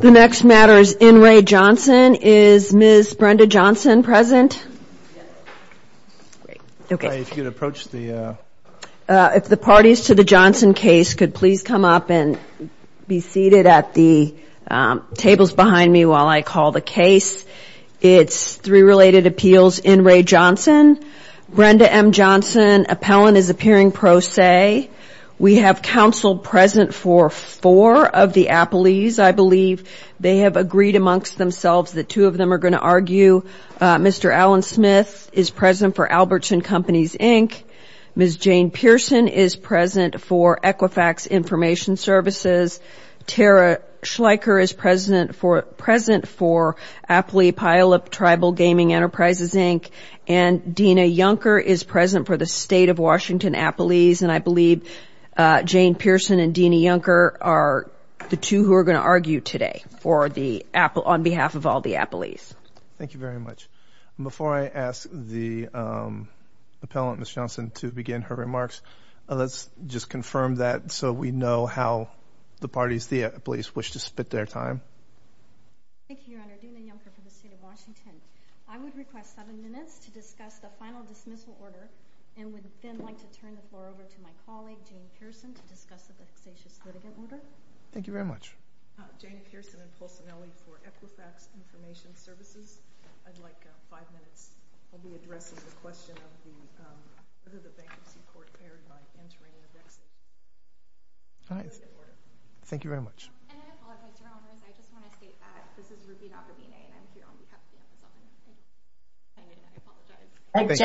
If the parties to the Johnson case could please come up and be seated at the tables behind me while I call the case, it's three related appeals in re. Johnson, Brenda M. Johnson, appellant is appearing pro se. We have counsel present for this case. We have counsel present for four of the appellees. I believe they have agreed amongst themselves that two of them are going to argue. Mr. Alan Smith is present for Albertson Companies, Inc. Ms. Jane Pearson is present for Equifax Information Services. Tara Schleicher is present for Appalachia Puyallup Tribal Gaming Enterprises, Inc. and Dena Yonker is present for the State of Washington Appalachians. And I believe Jane Pearson and Dena Yonker are the two who are going to argue today on behalf of all the appellees. Thank you very much. Before I ask the appellant, Ms. Johnson, to begin her remarks, let's just confirm that so we know how the parties, the appellees, wish to spit their time. Thank you, Your Honor. Dena Yonker for the State of Washington. I would request seven minutes to discuss the final dismissal order and would then like to turn the floor over to my colleague, Jane Pearson, to discuss the vexatious litigant order. Thank you very much. Jane Pearson and Paul Sinelli for Equifax Information Services. I'd like five minutes. I'll be addressing the question of whether the bankruptcy court erred by entering a vexatious litigant order. All right. Thank you very much. And I apologize, Your Honor. I just want to state that this is Ruby Navadine and I'm here on behalf of the U.S. government. I apologize.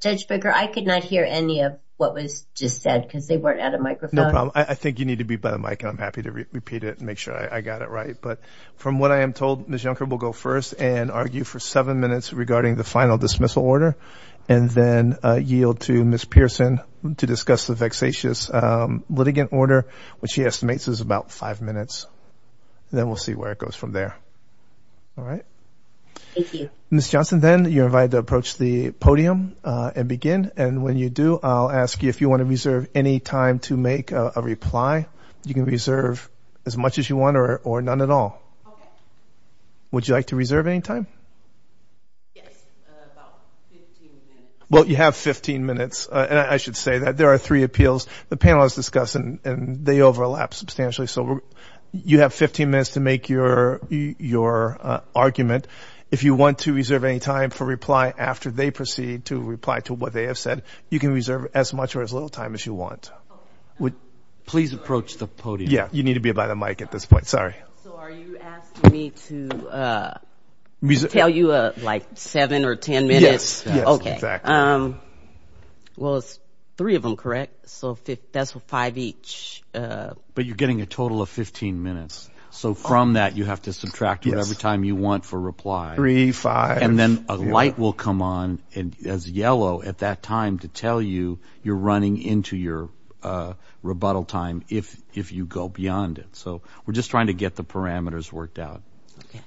Judge Springer, I could not hear any of what was just said because they weren't at a microphone. No problem. I think you need to be by the mic and I'm happy to repeat it and make sure I got it right. But from what I am told, Ms. Yonker will go first and argue for seven minutes regarding the final dismissal order and then yield to Ms. Pearson to discuss the vexatious litigant order, which she estimates is about five minutes. Then we'll see where it goes from there. All right. Thank you. Ms. Johnson, then you're invited to approach the podium and begin. And when you do, I'll ask you if you want to reserve any time to make a reply. You can reserve as much as you want or none at all. Okay. Would you like to reserve any time? Yes, about 15 minutes. Well, you have 15 minutes. And I should say that there are three appeals the panel has discussed and they overlap substantially. So you have 15 minutes to make your argument. If you want to reserve any time for reply after they proceed to reply to what they have said, you can reserve as much or as little time as you want. Please approach the podium. Yeah, you need to be by the mic at this point. Sorry. So are you asking me to tell you like seven or ten minutes? Yes. Okay. Well, it's three of them, correct? So that's five each. But you're getting a total of 15 minutes. So from that you have to subtract whatever time you want for reply. Three, five. And then a light will come on as yellow at that time to tell you you're running into your rebuttal time if you go beyond it. So we're just trying to get the parameters worked out. Okay.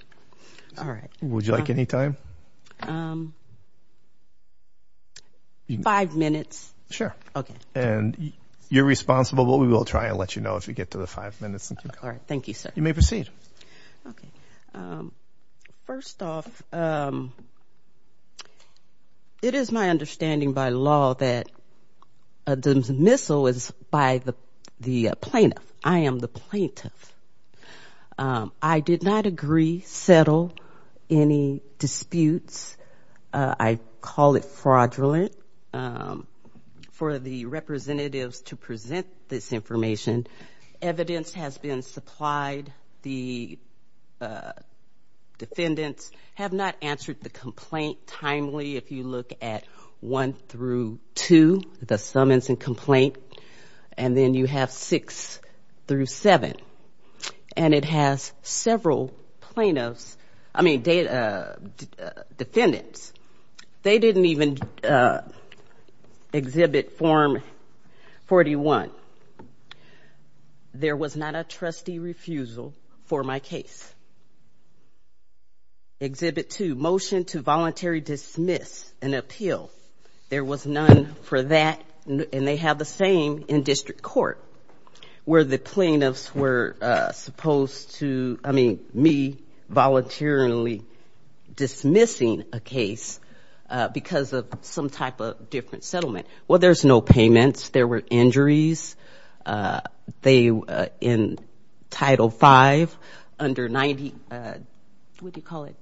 All right. Would you like any time? Five minutes. Sure. Okay. And you're responsible. We will try and let you know if we get to the five minutes. All right. Thank you, sir. You may proceed. Okay. First off, it is my understanding by law that a dismissal is by the plaintiff. I am the plaintiff. I did not agree, settle any disputes. I call it fraudulent. For the representatives to present this information, evidence has been supplied. The defendants have not answered the complaint timely. If you look at one through two, the summons and complaint, and then you have six through seven. And it has several plaintiffs, I mean defendants. They didn't even exhibit form 41. There was not a trustee refusal for my case. Exhibit two, motion to voluntary dismiss an appeal. There was none for that, and they have the same in district court where the plaintiffs were supposed to, I mean me voluntarily dismissing a case because of some type of different settlement. Well, there's no payments. There were injuries. They, in title five, under 90, what do you call it,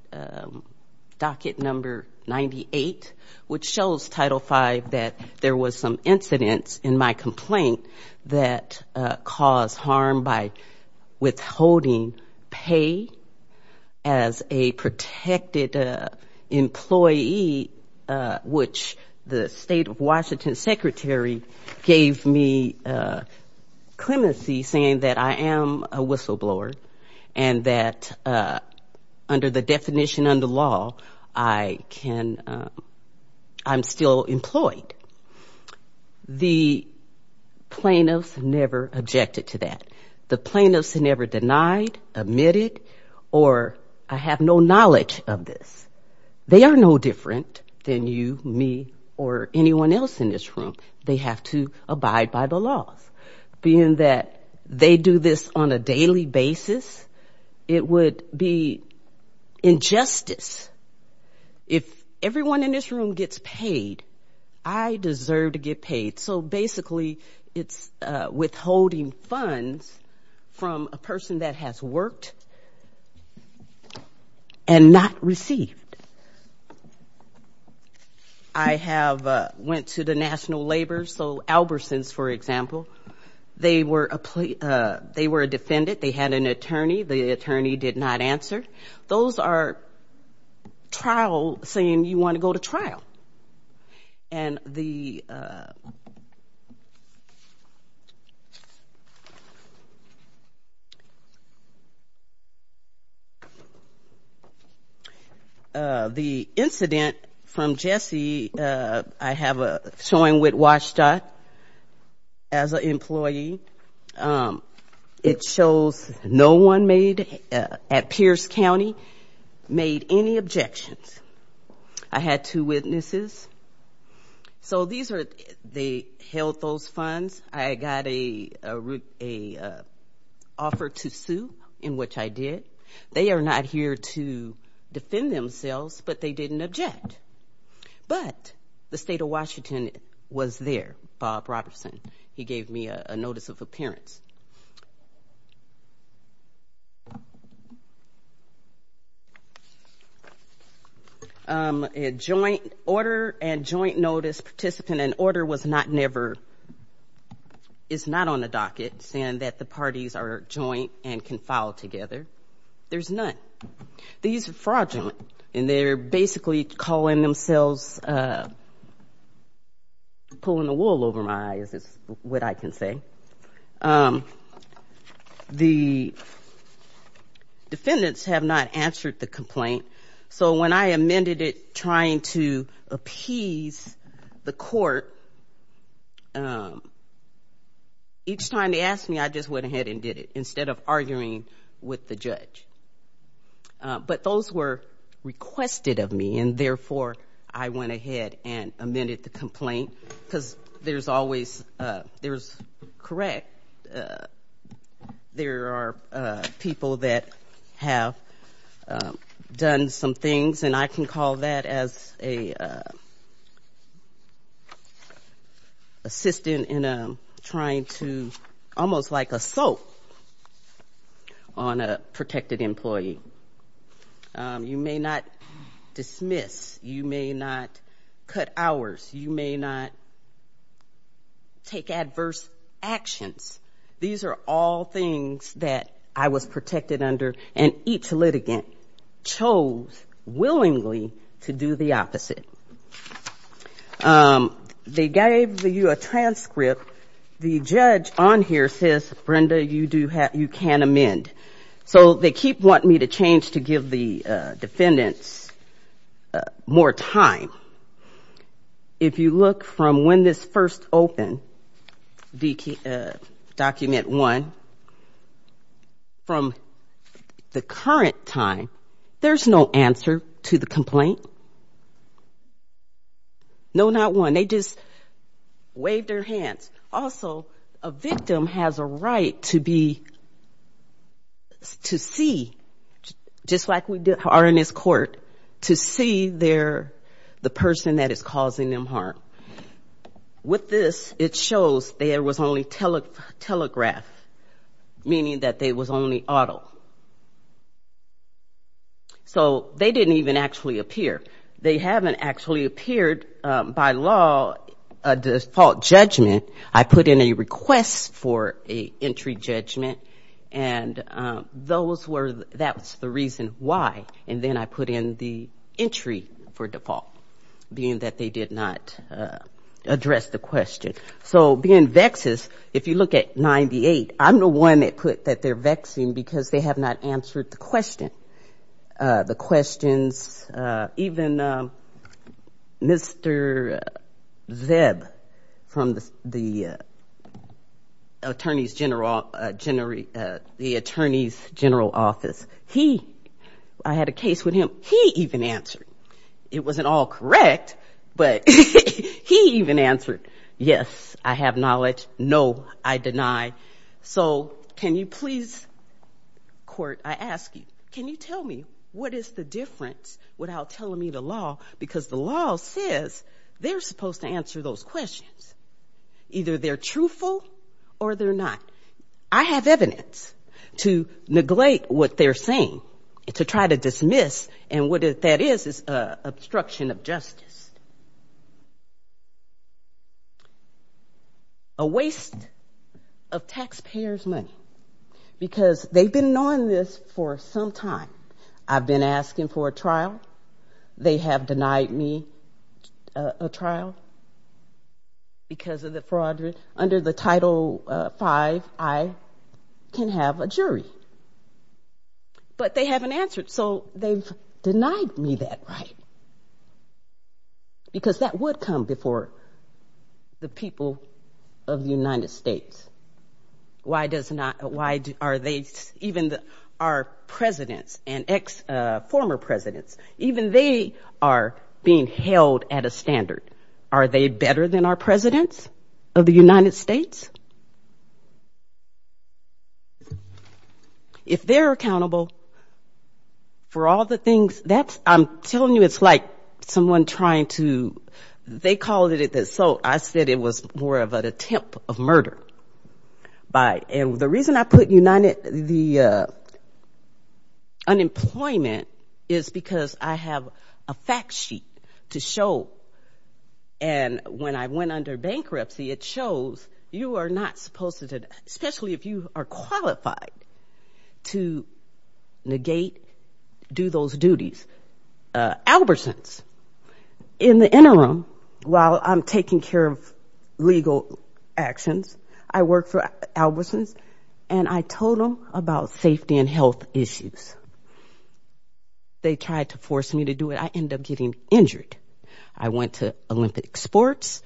docket number 98, which shows title five that there was some incidents in my complaint that caused harm by withholding pay as a clemency saying that I am a whistleblower and that under the definition under law I can, I'm still employed. The plaintiffs never objected to that. The plaintiffs never denied, admitted, or I have no knowledge of this. They are no different than you, me, or anyone else in this room. They have to abide by the laws, being that they do this on a daily basis, it would be injustice. If everyone in this room gets paid, I deserve to get paid. So basically it's withholding funds from a person that has worked and not received. I have went to the National Labor, so Albertsons, for example. They were a defendant. They had an attorney. The attorney did not answer. Those are trial, saying you want to go to trial. And the incident from Jesse, I have a showing with WSDOT as an employee. It shows no one made, at Pierce County, made any objections. I had two witnesses. So these are, they held those funds. I got an offer to sue, in which I did. They are not here to defend themselves, but they didn't object. But the state of Washington was there, Bob Robertson. He gave me a notice of appearance. A joint order and joint notice participant. An order was not never, is not on the docket, saying that the parties are joint and can file together. There's none. These are fraudulent, and they're basically calling themselves, pulling the wool over my eyes, is what I can say. The defendants have not answered the complaint. So when I amended it, trying to appease the court, each time they asked me, I just went ahead and did it, instead of arguing with the judge. But those were requested of me, and therefore, I went ahead and amended the complaint. Because there's always, there's correct, there are people that have done some things, and I can call that as a assistant in trying to, almost like a soap, on a protected employee. You may not dismiss, you may not cut hours, you may not take adverse actions. These are all things that I was protected under, and each litigant chose willingly to do the opposite. They gave you a transcript. So the judge on here says, Brenda, you do have, you can amend. So they keep wanting me to change to give the defendants more time. If you look from when this first opened, document one, from the current time, there's no answer to the complaint. No, not one. They just waved their hands. Also, a victim has a right to be, to see, just like we are in this court, to see the person that is causing them harm. With this, it shows there was only telegraph, meaning that there was only auto. So they didn't even actually appear. They haven't actually appeared, by law, a default judgment. I put in a request for an entry judgment, and those were, that's the reason why. And then I put in the entry for default, being that they did not address the question. So being vexes, if you look at 98, I'm the one that put that they're vexing, because they have not answered the question. The questions, even Mr. Zeb from the attorney's general office, he, I had a case with him, he even answered. It wasn't all correct, but he even answered, yes, I have knowledge, no, I deny. So can you please, court, I ask you, can you tell me what is the difference without telling me the law? Because the law says they're supposed to answer those questions, either they're truthful or they're not. I have evidence to neglect what they're saying, to try to dismiss, and what that is, is obstruction of justice. A waste of taxpayer's money, because they've been knowing this for some time. I've been asking for a trial, they have denied me a trial, because of the fraud, under the Title V, I can have a jury. But they haven't answered, so they've denied me that right. Because that would come before the people of the United States. Why does not, why are they, even our presidents and ex, former presidents, even they are being held at a standard. Are they better than our presidents of the United States? If they're accountable for all the things, that's, I'm telling you, it's like someone trying to, you know, they called it, so I said it was more of an attempt of murder. By, and the reason I put United, the unemployment is because I have a fact sheet to show, and when I went under bankruptcy, it shows you are not supposed to, especially if you are qualified to negate, do those duties. Albertsons, in the interim, while I'm taking care of legal actions, I work for Albertsons, and I told them about safety and health issues. They tried to force me to do it, I ended up getting injured. I went to Olympic sports,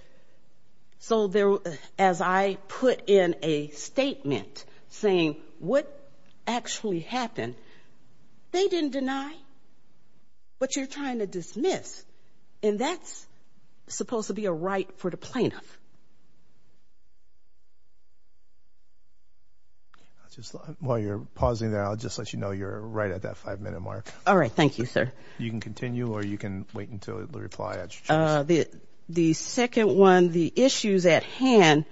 so there, as I put in a statement saying what actually happened, they didn't deny. But you're trying to dismiss, and that's supposed to be a right for the plaintiff. Just while you're pausing there, I'll just let you know you're right at that five-minute mark. All right, thank you, sir. You can continue, or you can wait until the reply at your choice. The second one, the issues at hand,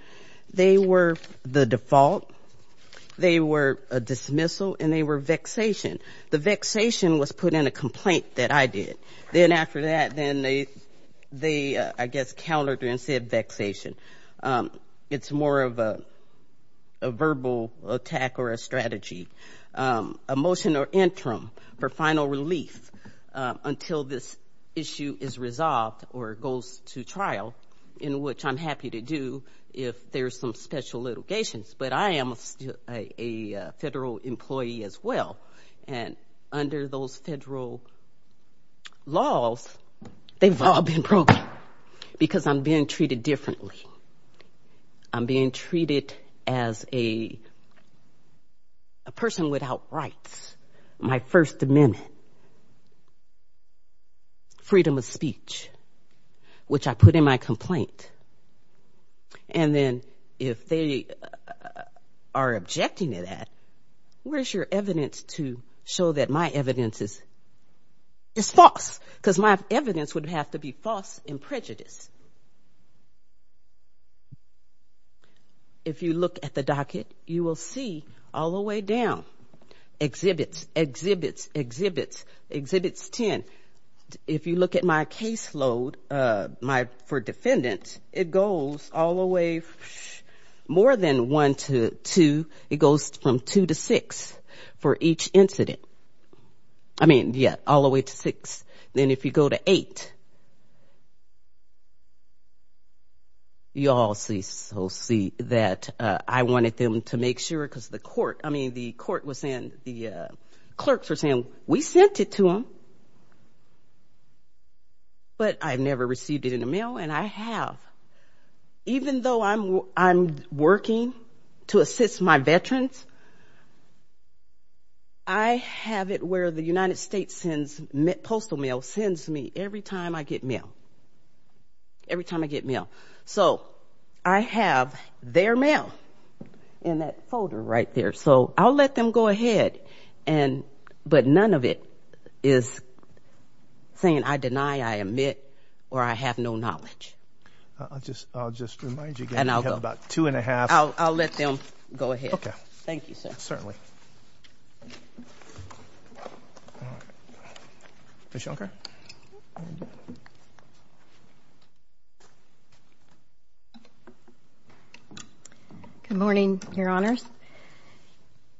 they were the default, they were a dismissal, and they were vexation. The vexation was put in a complaint that I did. Then after that, then they, I guess, countered and said vexation. It's more of a verbal attack or a strategy. A motion or interim for final relief until this issue is resolved or goes to trial, in which I'm happy to do if there's some special litigations, but I am a federal employee as well. And under those federal laws, they've all been broken, because I'm being treated differently. I'm being treated as a person without rights, my First Amendment, freedom of speech, which I put in my complaint. And then if they are objecting to that, where's your evidence to show that my evidence is false? Because my evidence would have to be false and prejudiced. If you look at the docket, you will see all the way down, exhibits, exhibits, exhibits, exhibits 10. If you look at my caseload, my, for defendants, it goes all the way, more than one to two, it goes from two to six for each incident. I mean, yeah, all the way to six. Then if you go to eight, you'll see that I wanted them to make sure, because the court, I mean, the court was saying, the clerks were saying, we sent it to them, but I've never received it in the mail, and I have. Even though I'm working to assist my veterans, I have never received it in the mail. I have it where the United States Postal Mail sends me every time I get mail, every time I get mail. So I have their mail in that folder right there. So I'll let them go ahead, but none of it is saying I deny, I admit, or I have no knowledge. I'll just remind you again, we have about two and a half. All right, Ms. Schenker. Good morning, Your Honors.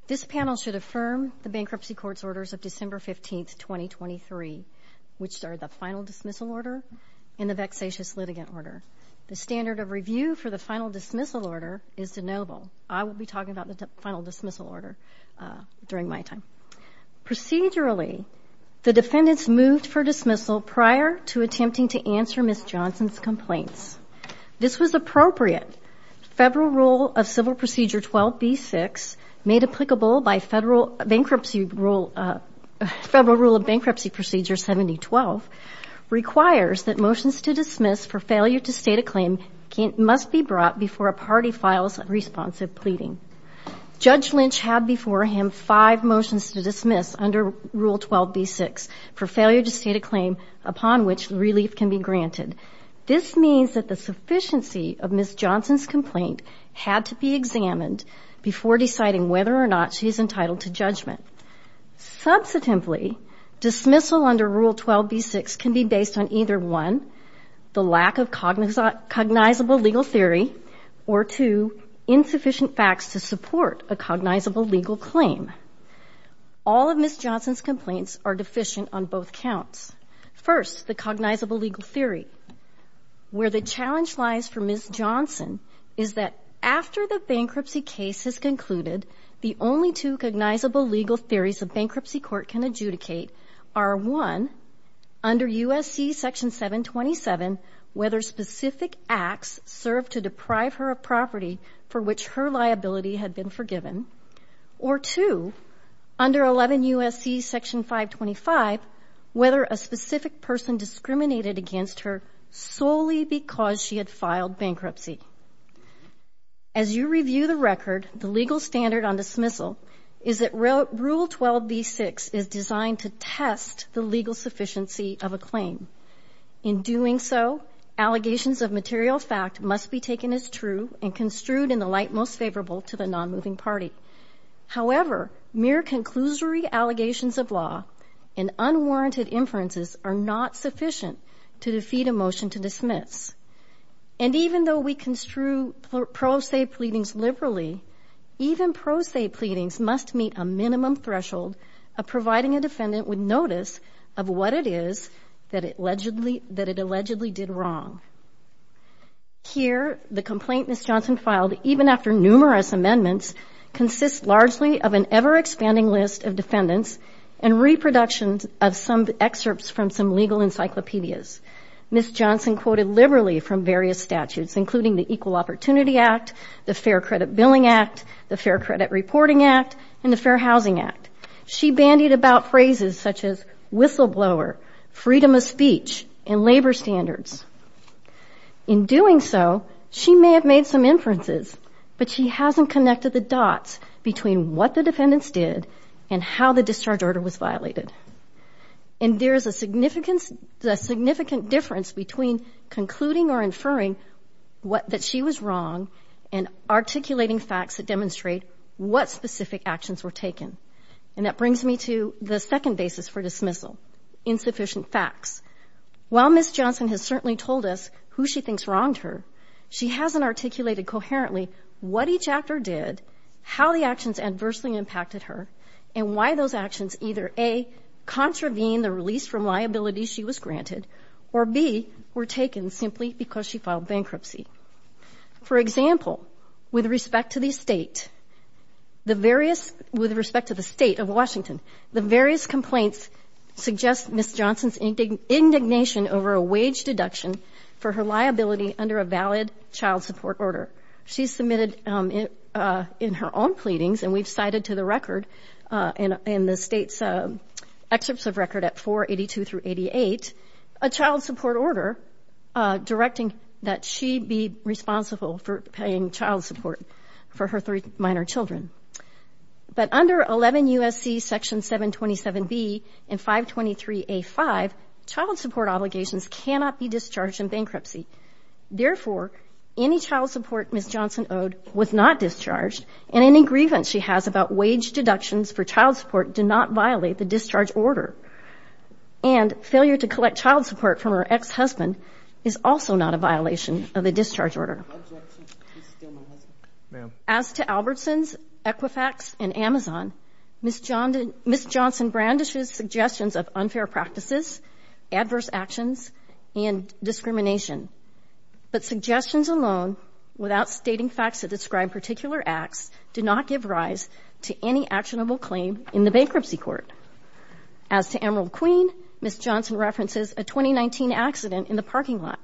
This panel should affirm the bankruptcy court's orders of December 15, 2023, which are the final dismissal order and the vexatious litigant order. The standard of review for the final dismissal order is de noble. I will be talking about the final dismissal order during my time. Procedurally, the defendants moved for dismissal prior to attempting to answer Ms. Johnson's complaints. This was appropriate. Federal Rule of Bankruptcy Procedure 7012 requires that motions to dismiss for failure to state a claim must be brought before a party who files a responsive pleading. Judge Lynch had before him five motions to dismiss under Rule 12b-6 for failure to state a claim upon which relief can be granted. This means that the sufficiency of Ms. Johnson's complaint had to be examined before deciding whether or not she is entitled to judgment. Subsequently, dismissal under Rule 12b-6 can be based on either one, the lack of cognizable legal theory, or two, the fact that Ms. Johnson's complaint is not subject to insufficient facts to support a cognizable legal claim. All of Ms. Johnson's complaints are deficient on both counts. First, the cognizable legal theory. Where the challenge lies for Ms. Johnson is that after the bankruptcy case is concluded, the only two cognizable legal theories a bankruptcy court can adjudicate are one, under U.S.C. Section 727, whether specific acts served to deprive her of property for which her liability had been forgiven, or two, under 11 U.S.C. Section 525, whether a specific person discriminated against her solely because she had filed bankruptcy. As you review the record, the legal standard on dismissal is that Rule 12b-6 is designed to test the legal sufficiency of Ms. Johnson's claim. In doing so, allegations of material fact must be taken as true and construed in the light most favorable to the non-moving party. However, mere conclusory allegations of law and unwarranted inferences are not sufficient to defeat a motion to dismiss. And even though we construe pro se pleadings liberally, even pro se pleadings must meet a minimum threshold of providing a defendant with evidence that it allegedly did wrong. Here, the complaint Ms. Johnson filed, even after numerous amendments, consists largely of an ever-expanding list of defendants and reproductions of some excerpts from some legal encyclopedias. Ms. Johnson quoted liberally from various statutes, including the Equal Opportunity Act, the Fair Credit Billing Act, the Fair Credit Reporting Act, and the Fair Credit Act. In doing so, she may have made some inferences, but she hasn't connected the dots between what the defendants did and how the discharge order was violated. And there is a significant difference between concluding or inferring that she was wrong and articulating facts that demonstrate what specific actions were taken. And that brings me to the second basis for dismissal, insufficient facts. While Ms. Johnson has certainly told us who she thinks wronged her, she hasn't articulated coherently what each actor did, how the actions adversely impacted her, and why those actions either A, contravene the release from liability she was granted, or B, were taken simply because she filed bankruptcy. For example, with respect to the state of Washington, the various complaints suggest Ms. Johnson's indignation over a wage deduction for her liability under a valid child support order. She submitted in her own pleadings, and we've cited to the record in the state's excerpts of record at 482 through 88, a child support order directing that she be responsible for paying child support for her three minor children. But under 11 U.S.C. Section 727B and 523A5, child support obligations cannot be discharged in bankruptcy. Therefore, any child support Ms. Johnson owed was not discharged, and any grievance she has about wage deductions for child support did not violate the discharge order. As to Albertsons, Equifax, and Amazon, Ms. Johnson brandishes suggestions of unfair practices, adverse actions, and discrimination, but suggestions alone, without stating facts that describe particular acts, do not give rise to any actionable claim in the bankruptcy court. As to Emerald Queen, Ms. Johnson references a 2019 accident in the parking lot,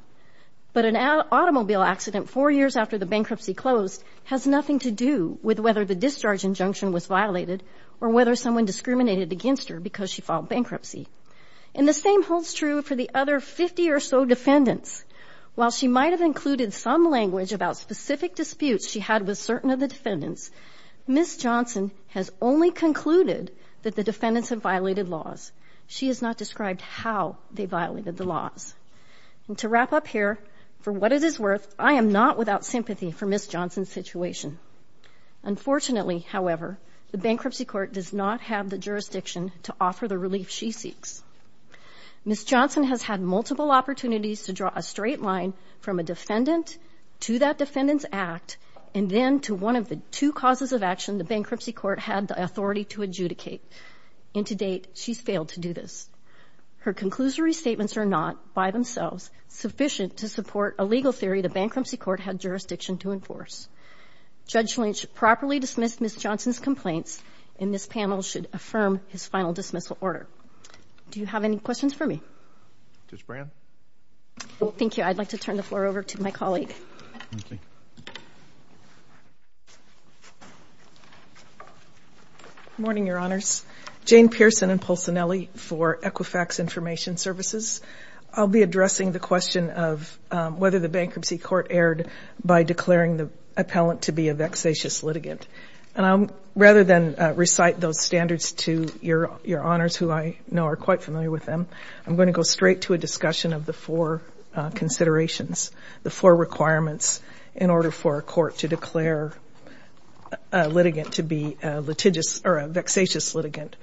but an automobile accident four years after the bankruptcy closed has nothing to do with whether the discharge injunction was violated or whether someone discriminated against her because she filed bankruptcy. And the same holds true for the other 50 or so defendants. While she might have included some language about specific disputes she had with certain of the defendants, Ms. Johnson has only concluded that the defendants have violated laws. She has not described how they violated the laws. And to wrap up here, for what it is worth, I am not without sympathy for Ms. Johnson's situation. Unfortunately, however, the bankruptcy court does not have the jurisdiction to offer the relief she seeks. Ms. Johnson has had multiple opportunities to draw a straight line from a defendant to that defendant's act, and then to one of the two causes of action the bankruptcy court had the authority to adjudicate. And to date, she's failed to do this. Her conclusory statements are not, by themselves, sufficient to support a legal theory the bankruptcy court had jurisdiction to enforce. Judge Lynch properly dismissed Ms. Johnson's complaints, and this panel should affirm his final dismissal order. Do you have any questions for me? Ms. Brand? Well, thank you. I'd like to turn the floor over to my colleague. Morning, Your Honors. Jane Pearson and Paul Cinelli for Equifax Information Services. I'll be addressing the question of whether the bankruptcy court erred by declaring the appellant to be a vexatious litigant. And I'll, rather than recite those standards to Your Honors, who I know are quite familiar with them, I'm going to go straight to a discussion of the four considerations, the four requirements in order for a court to declare a litigant to be a litigious or a vexatious litigant.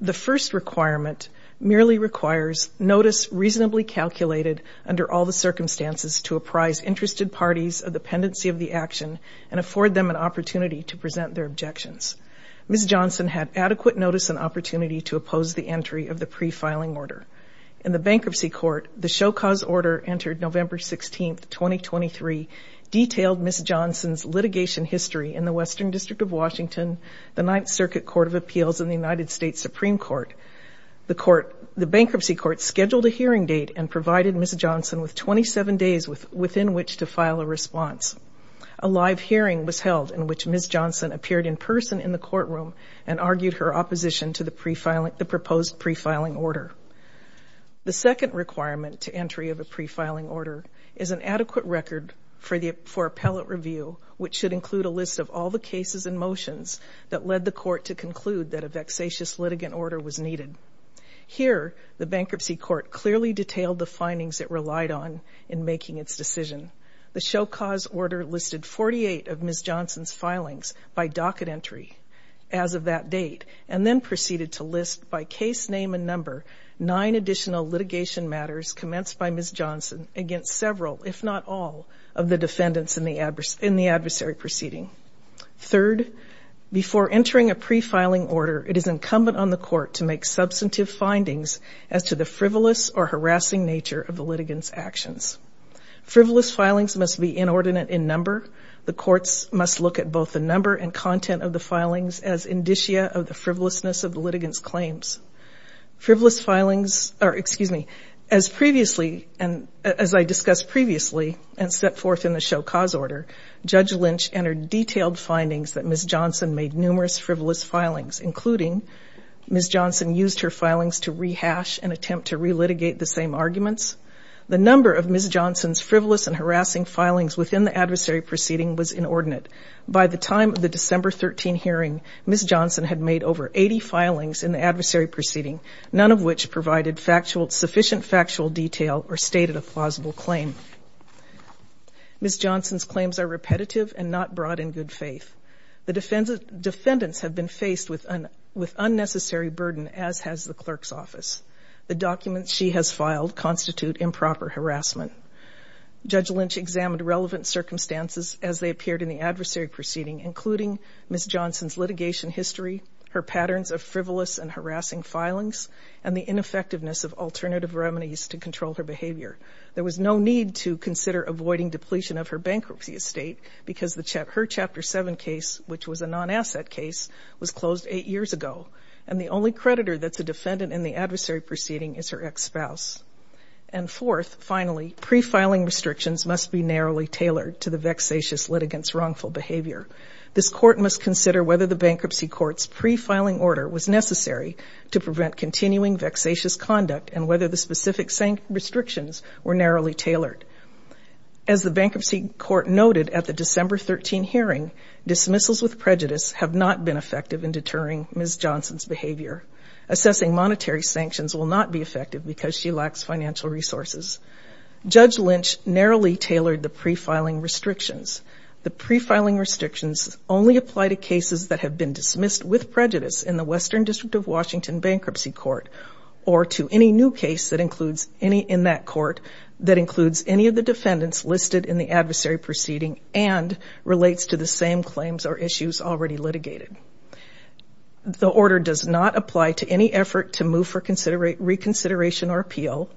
The first requirement merely requires notice reasonably calculated under all the circumstances to apprise interested parties of the pendency of the action and afford them an opportunity to present their objections. Ms. Johnson had adequate notice and opportunity to oppose the entry of the pre-filing order. In the bankruptcy court, the show-cause order entered November 16, 2023, detailed Ms. Johnson's litigation history in the Western District of Washington, the Ninth Circuit Court of Appeals, and the United States Supreme Court. The bankruptcy court scheduled a hearing date and provided Ms. Johnson with 27 days within which to file a response. A live hearing was held in which Ms. Johnson appeared in person in the courtroom and argued her opposition to the proposed pre-filing order. The second requirement to entry of a pre-filing order is an adequate record for appellate review, which should include a list of all the cases and motions that led the court to conclude that a vexatious litigant order was needed. Here, the bankruptcy court clearly detailed the findings it relied on in making its decision. The show-cause order listed 48 of Ms. Johnson's filings by docket entry as of that date and then proceeded to list, by case name and number, nine additional litigation matters commenced by Ms. Johnson against several, if not all, of the defendants in the adversary proceeding. Third, before entering a pre-filing order, it is incumbent on the court to make substantive findings as to the frivolous or harassing nature of the litigant's actions. Frivolous filings must be inordinate in number. The courts must look at both the number and content of the filings as indicia of the frivolousness of the litigant's claims. Frivolous filings are, excuse me, as previously, as I discussed previously and set forth in the show-cause order, Judge Lynch entered detailed findings that Ms. Johnson made numerous frivolous filings, including Ms. Johnson used her filings to rehash and attempt to relitigate the same arguments. The number of Ms. Johnson's frivolous and harassing filings within the adversary proceeding was inordinate. By the time of the December 13 hearing, Ms. Johnson had made over 80 filings in the adversary proceeding, none of which provided factual, sufficient factual detail or stated a plausible claim. Ms. Johnson's claims are repetitive and not brought in good faith. The defendants have been faced with unnecessary burden, as has the defendant. The documents she has filed constitute improper harassment. Judge Lynch examined relevant circumstances as they appeared in the adversary proceeding, including Ms. Johnson's litigation history, her patterns of frivolous and harassing filings, and the ineffectiveness of alternative remedies to control her behavior. There was no need to consider avoiding depletion of her bankruptcy estate, because her Chapter 7 case, which was a non-asset case, was closed eight years ago, and the only creditor that's a defendant in the adversary proceeding is her ex-spouse. And fourth, finally, pre-filing restrictions must be narrowly tailored to the vexatious litigant's wrongful behavior. This Court must consider whether the Bankruptcy Court's pre-filing order was necessary to prevent continuing vexatious conduct, and whether the specific restrictions were narrowly tailored. As the Bankruptcy Court noted at the December 13 hearing, dismissals with prejudice have not been effective in deterring Ms. Johnson's behavior. Assessing monetary sanctions will not be effective because she lacks financial resources. Judge Lynch narrowly tailored the pre-filing restrictions. The pre-filing restrictions only apply to cases that have been dismissed with prejudice in the Western District of Washington Bankruptcy Court, or to any new case that includes any in that court that includes any of the defendants listed in the adversary proceeding and relates to the same claims or issues already litigated. The order does not apply to any effort to move for reconsideration or appeal.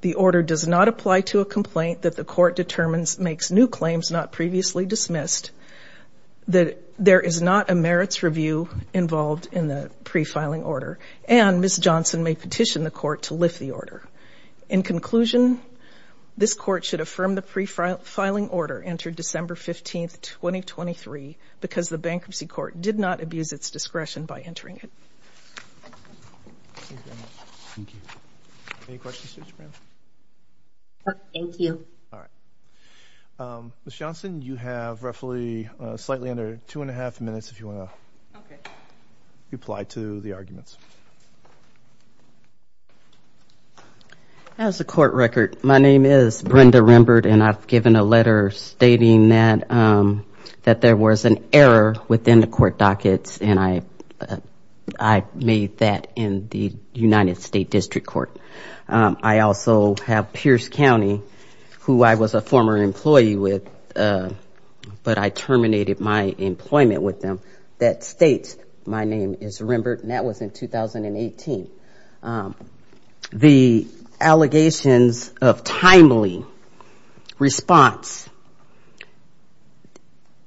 The order does not apply to a complaint that the Court determines makes new claims not previously dismissed, that there is not a merits review involved in the pre-filing order, and Ms. Johnson may petition the Court to lift the order. In conclusion, this Court should affirm the pre-filing order entered December 15, 2023, because the Bankruptcy Court did not abuse its discretion by entering it. Thank you. Ms. Johnson, you have roughly slightly under two and a half minutes if you want to reply to the arguments. As a court record, my name is Brenda Rembert, and I've given a letter stating that there was an error within the court dockets, and I made that in the United States District Court. I also have Pierce County, who I was a former employee with, but I terminated my employment with them, that states my name is Pierce County, and I made that in the United States District Court in January of 2018. The allegations of timely response,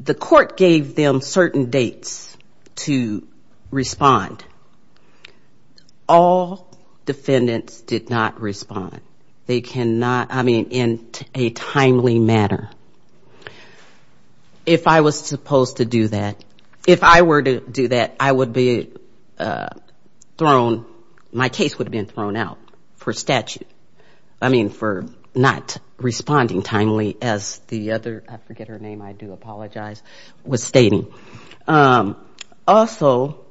the Court gave them certain dates to respond. All defendants did not respond. They cannot, I mean, in a timely manner. If I was supposed to do that, if I were to do that, I would be thrown, my case would have been thrown out for statute. I mean, for not responding timely, as the other, I forget her name, I do apologize, was stating. Also,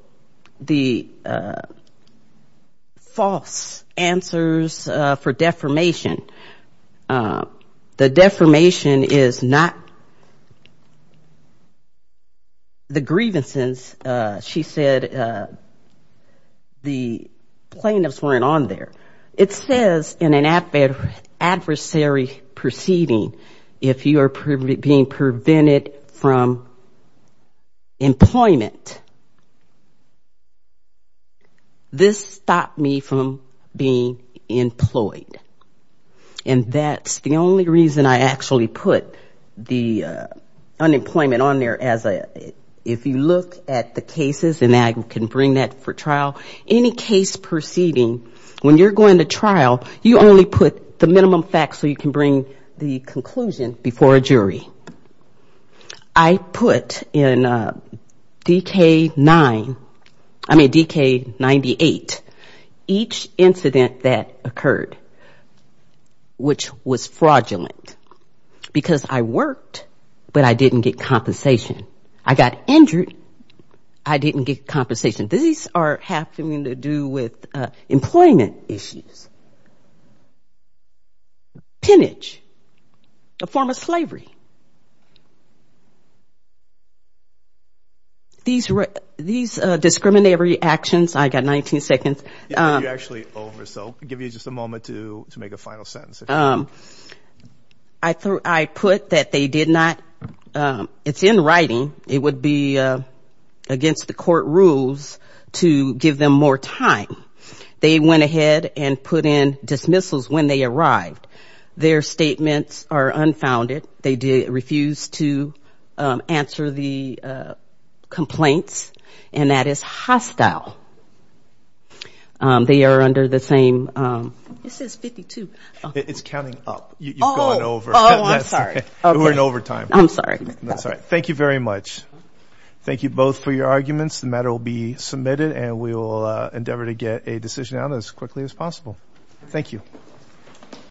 the false answers for defamation. The defamation is not the grievances, she said, the plaintiffs weren't on there. It says in an adversary proceeding, if you are being prevented from employment. This stopped me from being employed. And that's the only reason I actually put the unemployment on there as a, if you look at the cases, and I can bring that for trial. Any case proceeding, when you're going to trial, you only put the minimum facts so you can bring the conclusion before a jury. I put in DK-9, I mean, DK-98, each incident that occurred, which was fraudulent, because I worked, but I didn't get compensation. I got injured, I didn't get compensation. These are having to do with employment issues. Pinnage, a form of slavery. These discriminatory actions, I got 19 seconds. You're actually over, so I'll give you just a moment to make a final sentence. I put that they did not, it's in writing, it would be against the court rules to give them more time. They went ahead and put in dismissals when they arrived. Their statements are unfounded. They refused to answer the complaints, and that is hostile. They are under the same. It says 52. It's counting up, you're going over. We're in overtime. Thank you both for your arguments. The matter will be submitted, and we will endeavor to get a decision out as quickly as possible.